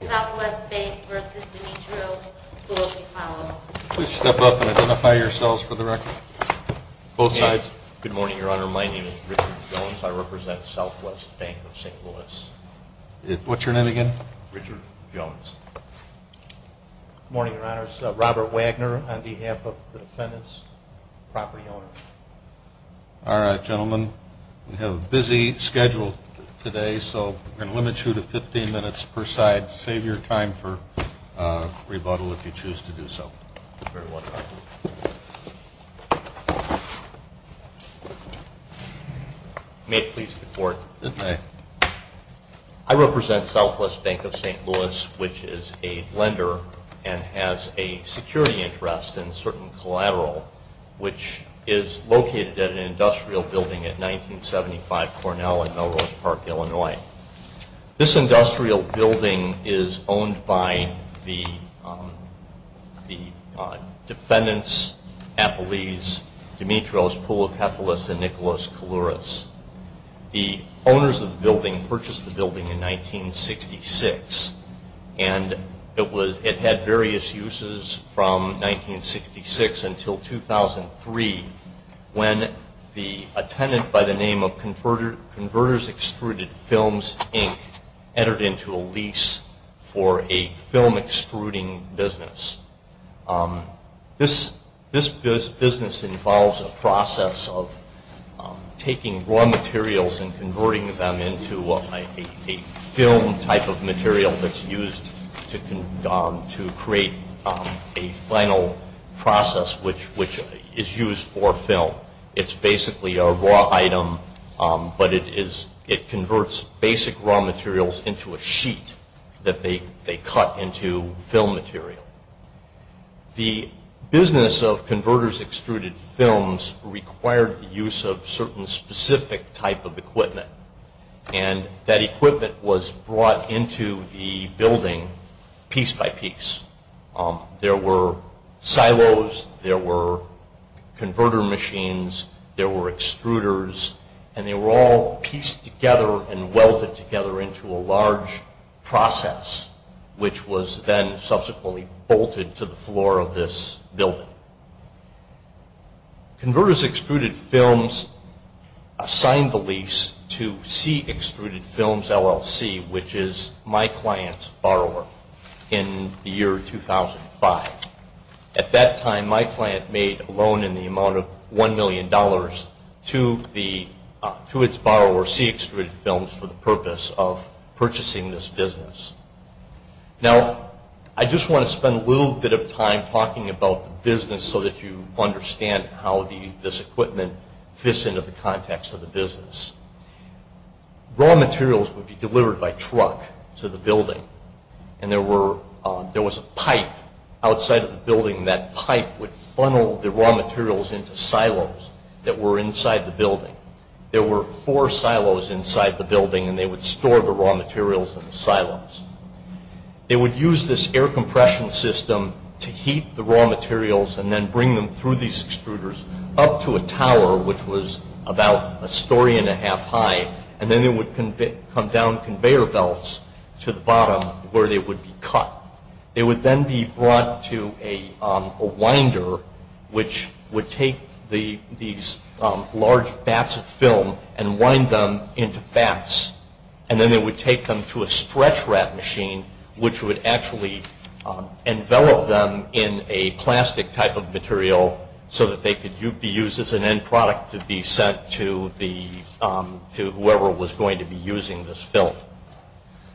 Southwest Bank v. De Nitro's, Louis v. Poulokefalos Please step up and identify yourselves for the record. Both sides. Good morning, Your Honor. My name is Richard Jones. I represent Southwest Bank of St. Louis. What's your name again? Richard Jones. Good morning, Your Honors. Robert Wagner on behalf of the defendants, property owners. All right, gentlemen. We have a busy schedule today, so we're going to limit you to 15 minutes per side. Save your time for rebuttal if you choose to do so. May it please the Court. It may. I represent Southwest Bank of St. Louis, which is a lender and has a security interest in a certain collateral, which is located at an industrial building at 1975 Cornell in Melrose Park, Illinois. This industrial building is owned by the defendants, Apolles, De Nitro's, Poulokefalos, and Nicholas Kalouras. The owners of the building purchased the building in 1966, and it had various uses from 1966 until 2003 when a tenant by the name of Converters Extruded Films, Inc. entered into a lease for a film extruding business. This business involves a process of taking raw materials and converting them into a film type of material that's used to create a final process, which is used for film. It's basically a raw item, but it converts basic raw materials into a sheet that they cut into film material. The business of Converters Extruded Films required the use of certain specific type of equipment, and that equipment was brought into the building piece by piece. There were silos. There were converter machines. There were extruders, and they were all pieced together and welded together into a large process, which was then subsequently bolted to the floor of this building. Converters Extruded Films assigned the lease to C. Extruded Films, LLC, which is my client's borrower in the year 2005. At that time, my client made a loan in the amount of $1 million to its borrower, C. Extruded Films, for the purpose of purchasing this business. Now, I just want to spend a little bit of time talking about the business so that you understand how this equipment fits into the context of the business. Raw materials would be delivered by truck to the building, and there was a pipe outside of the building. That pipe would funnel the raw materials into silos that were inside the building. There were four silos inside the building, and they would store the raw materials in the silos. They would use this air compression system to heat the raw materials and then bring them through these extruders up to a tower, which was about a story and a half high, and then they would come down conveyor belts to the bottom where they would be cut. They would then be brought to a winder, which would take these large bats of film and wind them into bats, and then they would take them to a stretch wrap machine, which would actually envelop them in a plastic type of material so that they could be used as an end product to be sent to whoever was going to be using this film.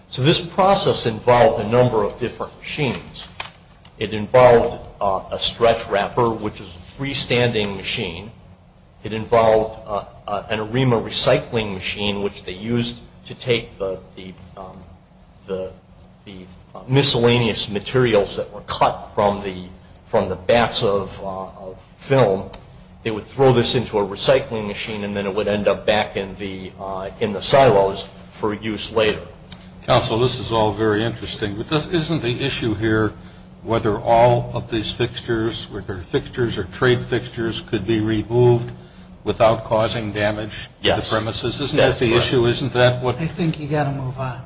So this process involved a number of different machines. It involved a stretch wrapper, which was a freestanding machine. It involved an ARIMA recycling machine, which they used to take the miscellaneous materials that were cut from the bats of film. They would throw this into a recycling machine, and then it would end up back in the silos for use later. Counsel, this is all very interesting, because isn't the issue here whether all of these fixtures, whether they're fixtures or trade fixtures, could be removed without causing damage to the premises? Isn't that the issue? I think you've got to move on.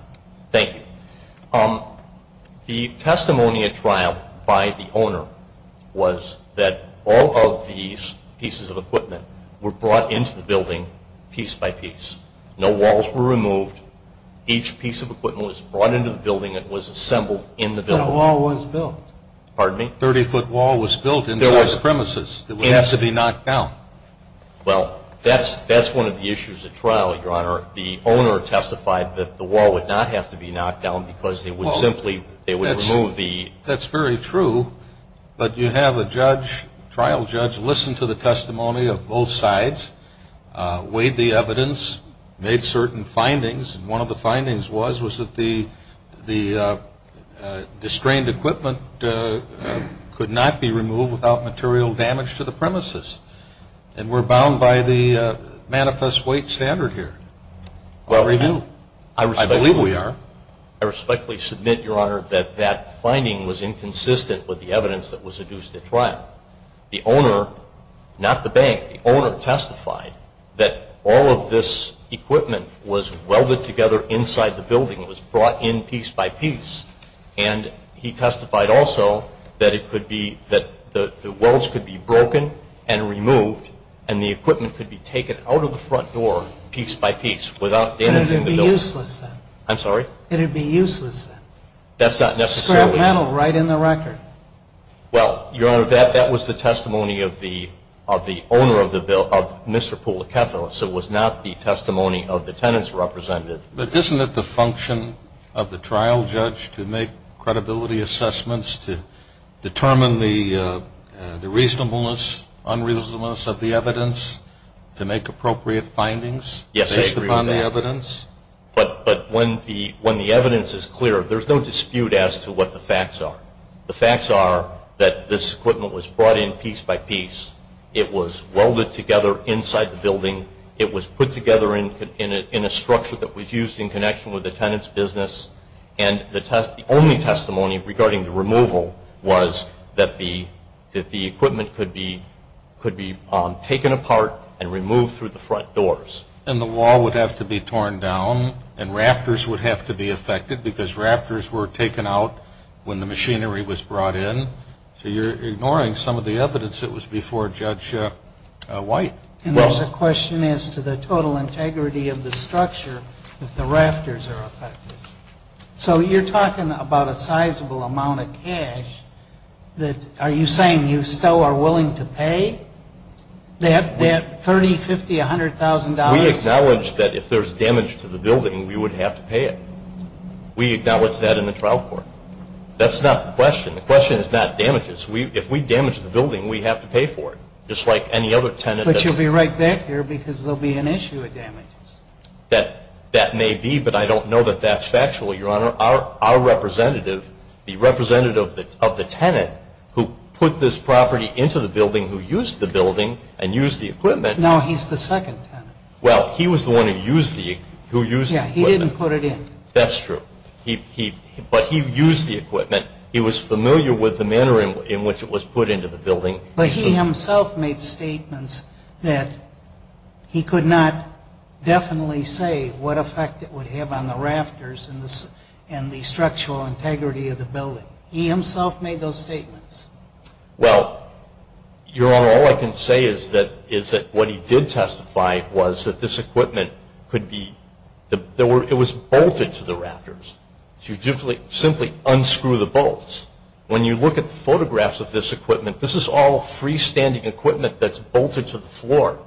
Thank you. The testimony at trial by the owner was that all of these pieces of equipment were brought into the building piece by piece. No walls were removed. Each piece of equipment was brought into the building. It was assembled in the building. No wall was built. Pardon me? A 30-foot wall was built inside the premises. It would have to be knocked down. Well, that's one of the issues at trial, Your Honor. The owner testified that the wall would not have to be knocked down because they would simply remove the- That's very true, but you have a trial judge listen to the testimony of both sides, weighed the evidence, made certain findings, and one of the findings was that the strained equipment could not be removed without material damage to the premises. And we're bound by the manifest weight standard here. I believe we are. I respectfully submit, Your Honor, that that finding was inconsistent with the evidence that was adduced at trial. The owner, not the bank, the owner testified that all of this equipment was welded together inside the building. It was brought in piece by piece. And he testified also that the welds could be broken and removed and the equipment could be taken out of the front door piece by piece without damaging the building. And it would be useless then. I'm sorry? It would be useless then. That's not necessarily- Scrap metal right in the record. Well, Your Honor, that was the testimony of the owner of the building, of Mr. Pulakeff, so it was not the testimony of the tenants represented. But isn't it the function of the trial judge to make credibility assessments, to determine the reasonableness, unreasonableness of the evidence, to make appropriate findings- Yes, I agree with that. Based upon the evidence? But when the evidence is clear, there's no dispute as to what the facts are. The facts are that this equipment was brought in piece by piece. It was welded together inside the building. It was put together in a structure that was used in connection with the tenant's business. And the only testimony regarding the removal was that the equipment could be taken apart and removed through the front doors. And the wall would have to be torn down and rafters would have to be affected because rafters were taken out when the machinery was brought in. So you're ignoring some of the evidence that was before Judge White. And there's a question as to the total integrity of the structure if the rafters are affected. So you're talking about a sizable amount of cash. Are you saying you still are willing to pay that $30,000, $50,000, $100,000? We acknowledge that if there's damage to the building, we would have to pay it. We acknowledge that in the trial court. That's not the question. The question is not damages. If we damage the building, we have to pay for it, just like any other tenant. But you'll be right back here because there will be an issue with damages. That may be, but I don't know that that's factual, Your Honor. Our representative, the representative of the tenant who put this property into the building, who used the building and used the equipment. No, he's the second tenant. Well, he was the one who used the equipment. Yeah, he didn't put it in. That's true. But he used the equipment. He was familiar with the manner in which it was put into the building. But he himself made statements that he could not definitely say what effect it would have on the rafters and the structural integrity of the building. He himself made those statements. Well, Your Honor, all I can say is that what he did testify was that this equipment could be, it was bolted to the rafters. You simply unscrew the bolts. When you look at the photographs of this equipment, this is all freestanding equipment that's bolted to the floor.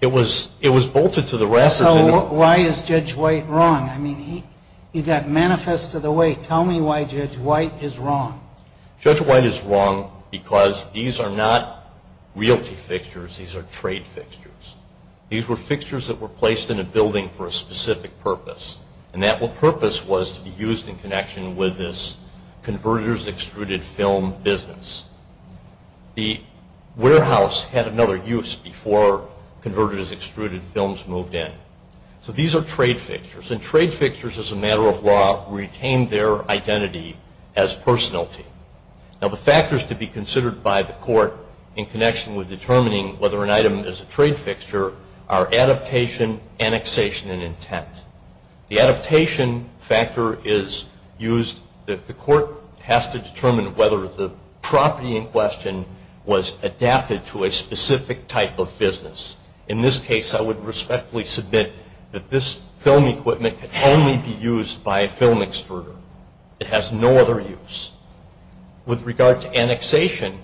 It was bolted to the rafters. So why is Judge White wrong? I mean, he got manifest of the weight. Tell me why Judge White is wrong. Judge White is wrong because these are not realty fixtures. These are trade fixtures. These were fixtures that were placed in a building for a specific purpose, and that purpose was to be used in connection with this converters' extruded film business. The warehouse had another use before converters' extruded films moved in. So these are trade fixtures. And trade fixtures, as a matter of law, retain their identity as personality. Now, the factors to be considered by the court in connection with determining whether an item is a trade fixture are adaptation, annexation, and intent. The adaptation factor is used that the court has to determine whether the property in question was adapted to a specific type of business. In this case, I would respectfully submit that this film equipment can only be used by a film extruder. It has no other use. With regard to annexation,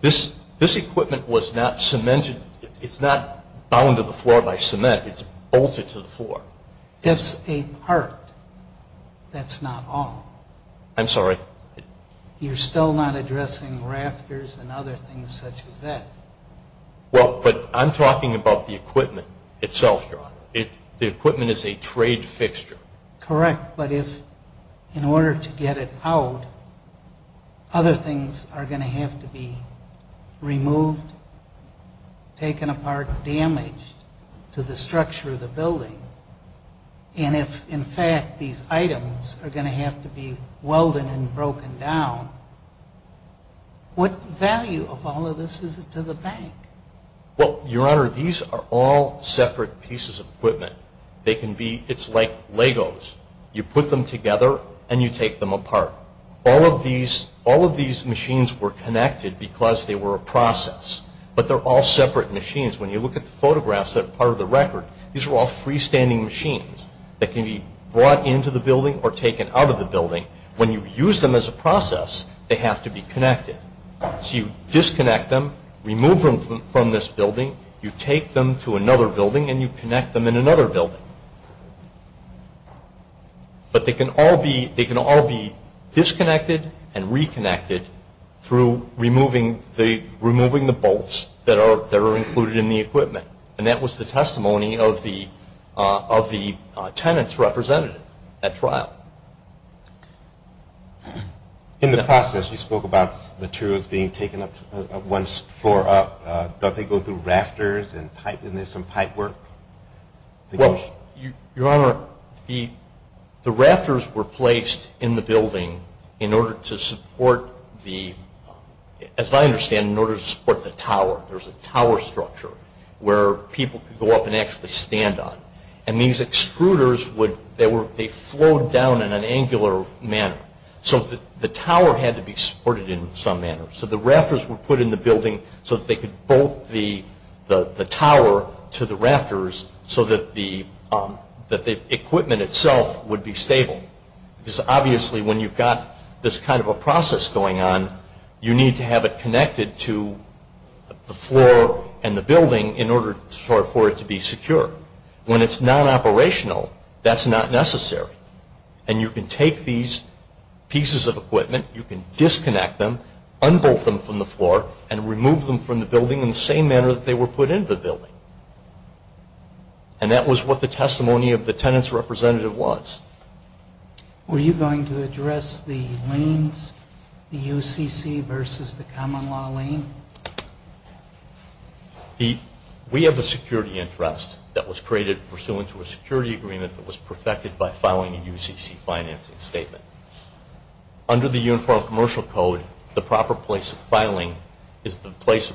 this equipment was not cemented. It's not bound to the floor by cement. It's bolted to the floor. That's a part. That's not all. I'm sorry? You're still not addressing rafters and other things such as that. Well, but I'm talking about the equipment itself, Your Honor. The equipment is a trade fixture. Correct, but if in order to get it out, other things are going to have to be removed, taken apart, damaged to the structure of the building, and if, in fact, these items are going to have to be welded and broken down, what value of all of this is it to the bank? Well, Your Honor, these are all separate pieces of equipment. It's like Legos. You put them together, and you take them apart. All of these machines were connected because they were a process, but they're all separate machines. When you look at the photographs that are part of the record, these are all freestanding machines that can be brought into the building or taken out of the building. When you use them as a process, they have to be connected. So you disconnect them, remove them from this building, you take them to another building, and you connect them in another building. But they can all be disconnected and reconnected through removing the bolts that are included in the equipment, and that was the testimony of the tenant's representative at trial. In the process, you spoke about materials being taken up, once tore up. Don't they go through rafters and pipe? Isn't there some pipe work? Well, Your Honor, the rafters were placed in the building in order to support the, as I understand, in order to support the tower. There's a tower structure where people could go up and actually stand on. And these extruders, they flowed down in an angular manner. So the tower had to be supported in some manner. So the rafters were put in the building so that they could bolt the tower to the rafters so that the equipment itself would be stable. Because obviously when you've got this kind of a process going on, you need to have it connected to the floor and the building in order for it to be secure. When it's non-operational, that's not necessary. And you can take these pieces of equipment, you can disconnect them, unbolt them from the floor, and remove them from the building in the same manner that they were put into the building. And that was what the testimony of the tenant's representative was. Were you going to address the lanes, the UCC versus the common law lane? We have a security interest that was created pursuant to a security agreement that was perfected by filing a UCC financing statement. Under the Uniform Commercial Code, the proper place of filing is the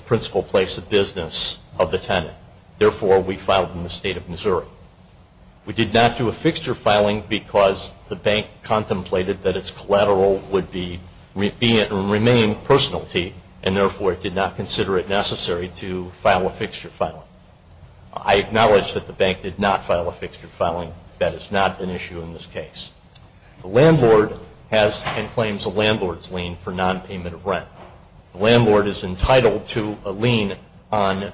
principal place of business of the tenant. Therefore, we filed in the State of Missouri. We did not do a fixture filing because the bank contemplated that its collateral would remain personality and therefore did not consider it necessary to file a fixture filing. I acknowledge that the bank did not file a fixture filing. That is not an issue in this case. The landlord has and claims a landlord's lien for non-payment of rent. The landlord is entitled to a lien on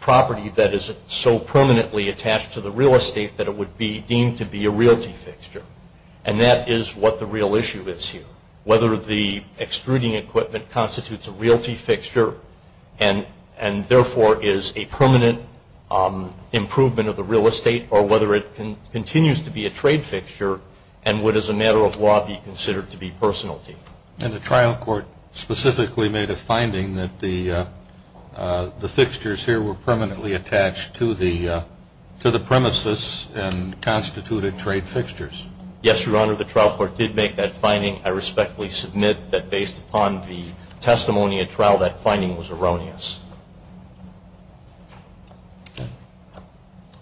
property that is so permanently attached to the real estate that it would be deemed to be a realty fixture. And that is what the real issue is here. Whether the extruding equipment constitutes a realty fixture and therefore is a permanent improvement of the real estate or whether it continues to be a trade fixture and would as a matter of law be considered to be personality. And the trial court specifically made a finding that the fixtures here were permanently attached to the premises and constituted trade fixtures. Yes, Your Honor. The trial court did make that finding. I respectfully submit that based upon the testimony at trial that finding was erroneous.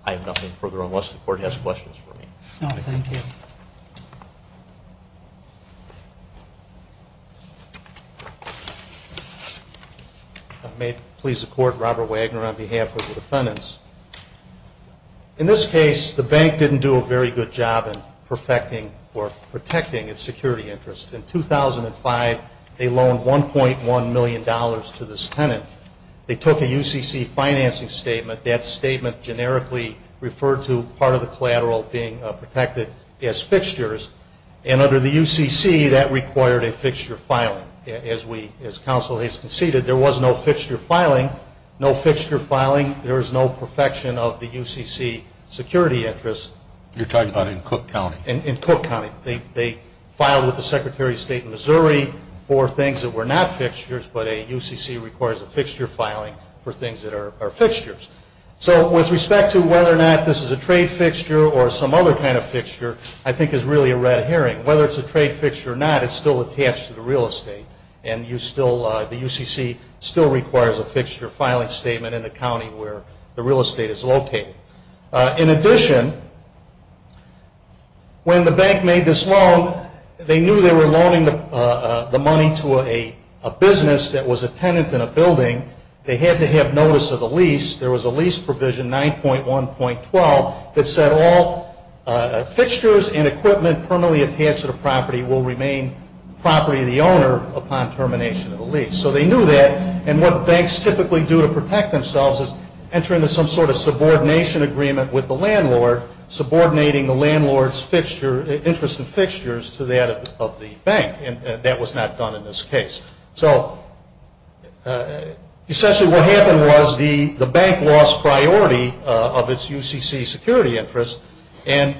I have nothing further unless the court has questions for me. No, thank you. Thank you. May it please the Court, Robert Wagner on behalf of the defendants. In this case, the bank didn't do a very good job in perfecting or protecting its security interest. In 2005, they loaned $1.1 million to this tenant. They took a UCC financing statement. That statement generically referred to part of the collateral being protected as fixtures. And under the UCC, that required a fixture filing. As counsel has conceded, there was no fixture filing. No fixture filing, there is no perfection of the UCC security interest. You're talking about in Cook County. In Cook County. They filed with the Secretary of State in Missouri for things that were not fixtures, but a UCC requires a fixture filing for things that are fixtures. So with respect to whether or not this is a trade fixture or some other kind of fixture, I think is really a red herring. Whether it's a trade fixture or not, it's still attached to the real estate. And the UCC still requires a fixture filing statement in the county where the real estate is located. In addition, when the bank made this loan, they knew they were loaning the money to a business that was a tenant in a building. They had to have notice of the lease. There was a lease provision, 9.1.12, that said all fixtures and equipment permanently attached to the property will remain property of the owner upon termination of the lease. So they knew that. And what banks typically do to protect themselves is enter into some sort of subordination agreement with the landlord, subordinating the landlord's interest in fixtures to that of the bank. And that was not done in this case. So essentially what happened was the bank lost priority of its UCC security interest. And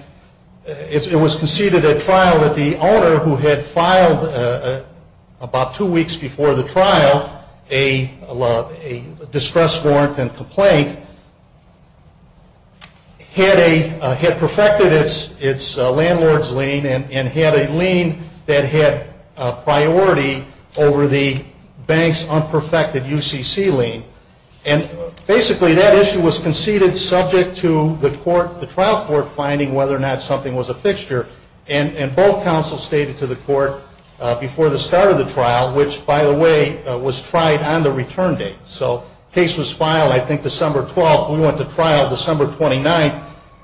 it was conceded at trial that the owner, who had filed about two weeks before the trial, a distress warrant and complaint, had perfected its landlord's lien and had a lien that had priority over the bank's unperfected UCC lien. And basically that issue was conceded subject to the court, the trial court, finding whether or not something was a fixture. And both counsels stated to the court before the start of the trial, which, by the way, was tried on the return date. So the case was filed, I think, December 12th. We went to trial December 29th.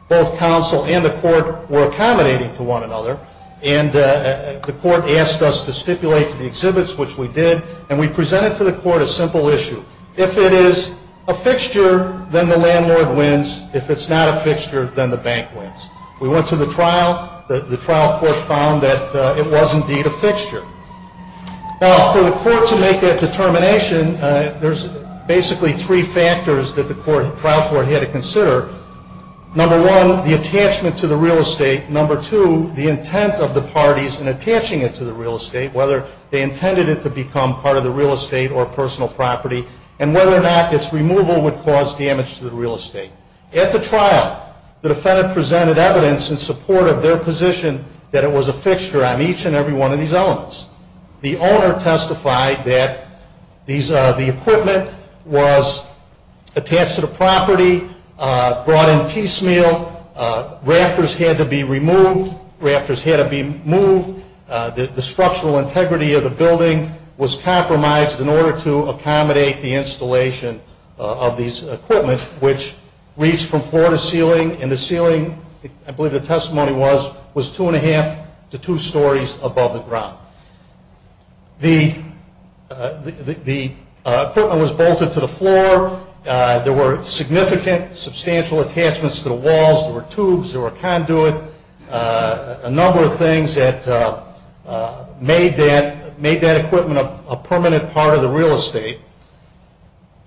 Both counsel and the court were accommodating to one another. And the court asked us to stipulate to the exhibits, which we did. And we presented to the court a simple issue. If it is a fixture, then the landlord wins. If it's not a fixture, then the bank wins. We went to the trial. The trial court found that it was indeed a fixture. Now, for the court to make that determination, there's basically three factors that the trial court had to consider. Number one, the attachment to the real estate. Number two, the intent of the parties in attaching it to the real estate, whether they intended it to become part of the real estate or personal property, and whether or not its removal would cause damage to the real estate. At the trial, the defendant presented evidence in support of their position that it was a fixture on each and every one of these elements. The owner testified that the equipment was attached to the property, brought in piecemeal, rafters had to be removed, rafters had to be moved, the structural integrity of the building was compromised in order to accommodate the installation of these equipment, which reached from floor to ceiling, and the ceiling, I believe the testimony was, was two and a half to two stories above the ground. The equipment was bolted to the floor. There were significant, substantial attachments to the walls. There were tubes. There were conduit. A number of things that made that equipment a permanent part of the real estate.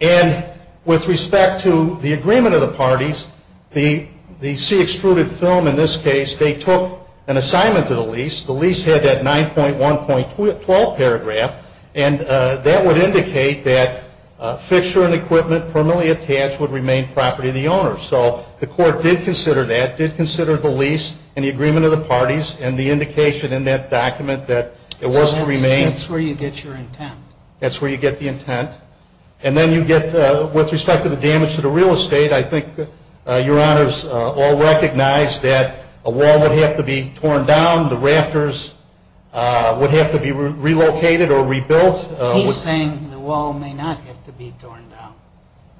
And with respect to the agreement of the parties, the C-extruded film in this case, they took an assignment to the lease. The lease had that 9.1.12 paragraph, and that would indicate that fixture and equipment permanently attached would remain property of the owner. So the court did consider that, did consider the lease and the agreement of the parties and the indication in that document that it was to remain. So that's where you get your intent. That's where you get the intent. And then you get, with respect to the damage to the real estate, I think Your Honors all recognize that a wall would have to be torn down, the rafters would have to be relocated or rebuilt. He's saying the wall may not have to be torn down,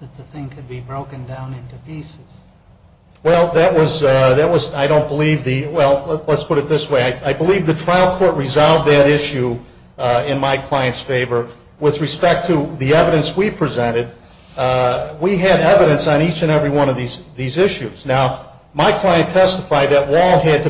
that the thing could be broken down into pieces. Well, that was, I don't believe the, well, let's put it this way. I believe the trial court resolved that issue in my client's favor. With respect to the evidence we presented, we had evidence on each and every one of these issues. Now, my client testified that wall had to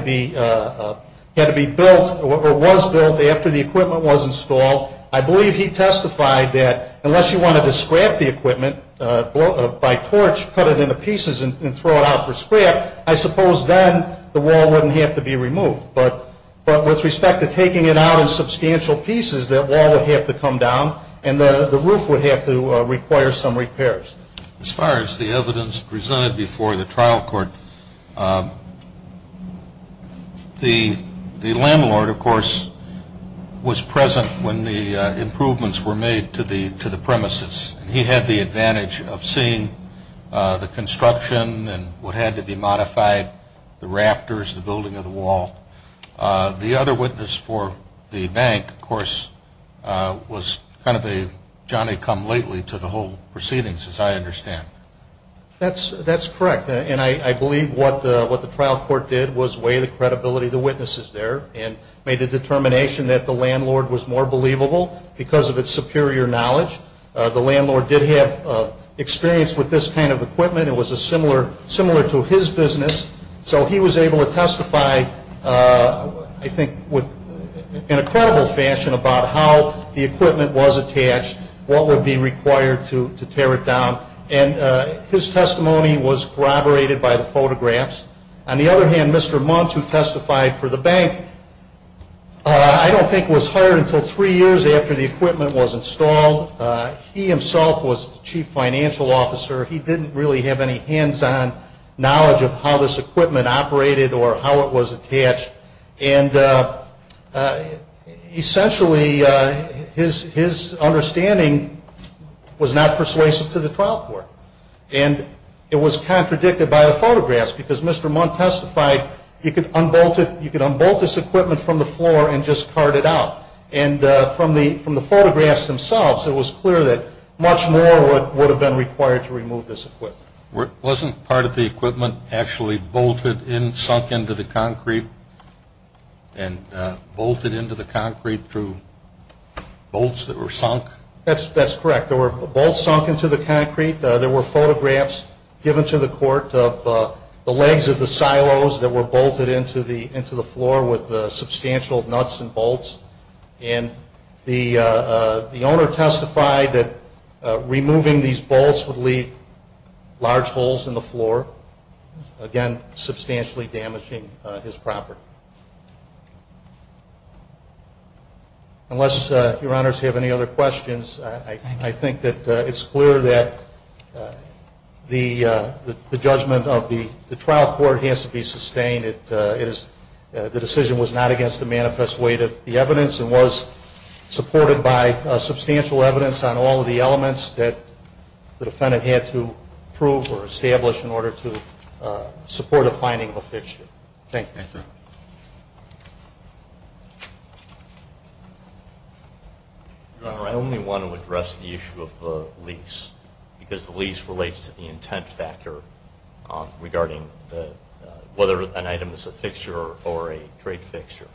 be built or was built after the equipment was installed. I believe he testified that unless you wanted to scrap the equipment by torch, cut it into pieces and throw it out for scrap, I suppose then the wall wouldn't have to be removed. But with respect to taking it out in substantial pieces, that wall would have to come down and the roof would have to require some repairs. As far as the evidence presented before the trial court, the landlord, of course, was present when the improvements were made to the premises. He had the advantage of seeing the construction and what had to be modified, the rafters, the building of the wall. The other witness for the bank, of course, was kind of a Johnny come lately to the whole proceedings, as I understand. That's correct. And I believe what the trial court did was weigh the credibility of the witnesses there and made a determination that the landlord was more believable because of its superior knowledge. The landlord did have experience with this kind of equipment. It was similar to his business. So he was able to testify, I think, in a credible fashion about how the equipment was attached, what would be required to tear it down. And his testimony was corroborated by the photographs. On the other hand, Mr. Muntz, who testified for the bank, I don't think was hired until three years after the equipment was installed. He himself was the chief financial officer. He didn't really have any hands-on knowledge of how this equipment operated or how it was attached. And essentially, his understanding was not persuasive to the trial court. And it was contradicted by the photographs because Mr. Muntz testified you could unbolt this equipment from the floor and just cart it out. And from the photographs themselves, it was clear that much more would have been required to remove this equipment. Wasn't part of the equipment actually bolted in, sunk into the concrete and bolted into the concrete through bolts that were sunk? That's correct. There were bolts sunk into the concrete. There were photographs given to the court of the legs of the silos that were bolted into the floor with substantial nuts and bolts. And the owner testified that removing these bolts would leave large holes in the floor, again, substantially damaging his property. Unless Your Honors have any other questions, I think that it's clear that the judgment of the trial court has to be sustained. The decision was not against the manifest weight of the evidence and was supported by substantial evidence on all of the elements that the defendant had to prove or establish in order to support a finding of a fixture. Thank you. Your Honor, I only want to address the issue of the lease because the lease relates to the intent factor regarding whether an item is a fixture or a trade fixture.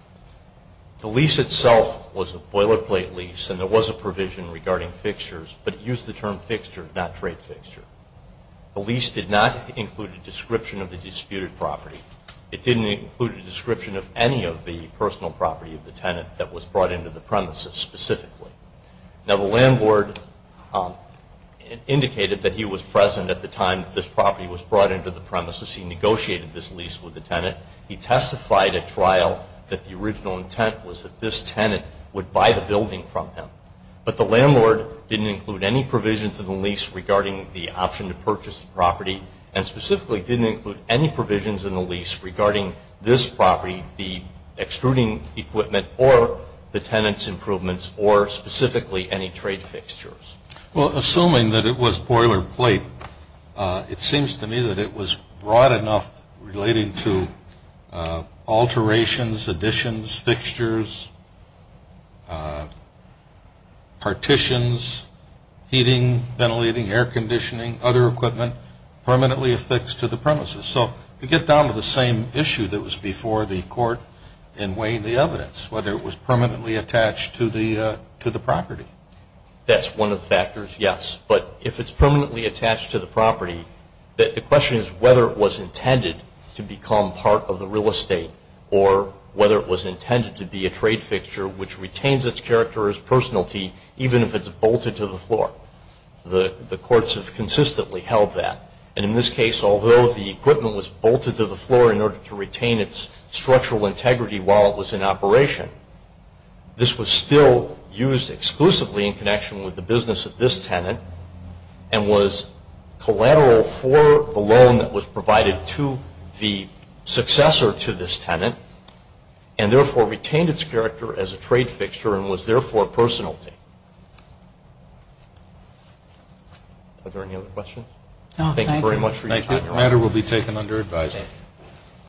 The lease itself was a boilerplate lease and there was a provision regarding fixtures, but it used the term fixture, not trade fixture. The lease did not include a description of the disputed property. It didn't include a description of any of the personal property of the tenant that was brought into the premises specifically. Now, the landlord indicated that he was present at the time that this property was brought into the premises. He negotiated this lease with the tenant. He testified at trial that the original intent was that this tenant would buy the building from him. But the landlord didn't include any provisions in the lease regarding the option to purchase the property and specifically didn't include any provisions in the lease regarding this property, excluding equipment or the tenant's improvements or specifically any trade fixtures. Well, assuming that it was boilerplate, it seems to me that it was broad enough relating to alterations, additions, fixtures, partitions, heating, ventilating, air conditioning, other equipment permanently affixed to the premises. So you get down to the same issue that was before the court in weighing the evidence, whether it was permanently attached to the property. That's one of the factors, yes. But if it's permanently attached to the property, the question is whether it was intended to become part of the real estate or whether it was intended to be a trade fixture which retains its character as personality, even if it's bolted to the floor. The courts have consistently held that. And in this case, although the equipment was bolted to the floor in order to retain its structural integrity while it was in operation, this was still used exclusively in connection with the business of this tenant and was collateral for the loan that was provided to the successor to this tenant and therefore retained its character as a trade fixture and was therefore personality. Are there any other questions? No, thank you. Thank you very much for your time. This matter will be taken under advisory.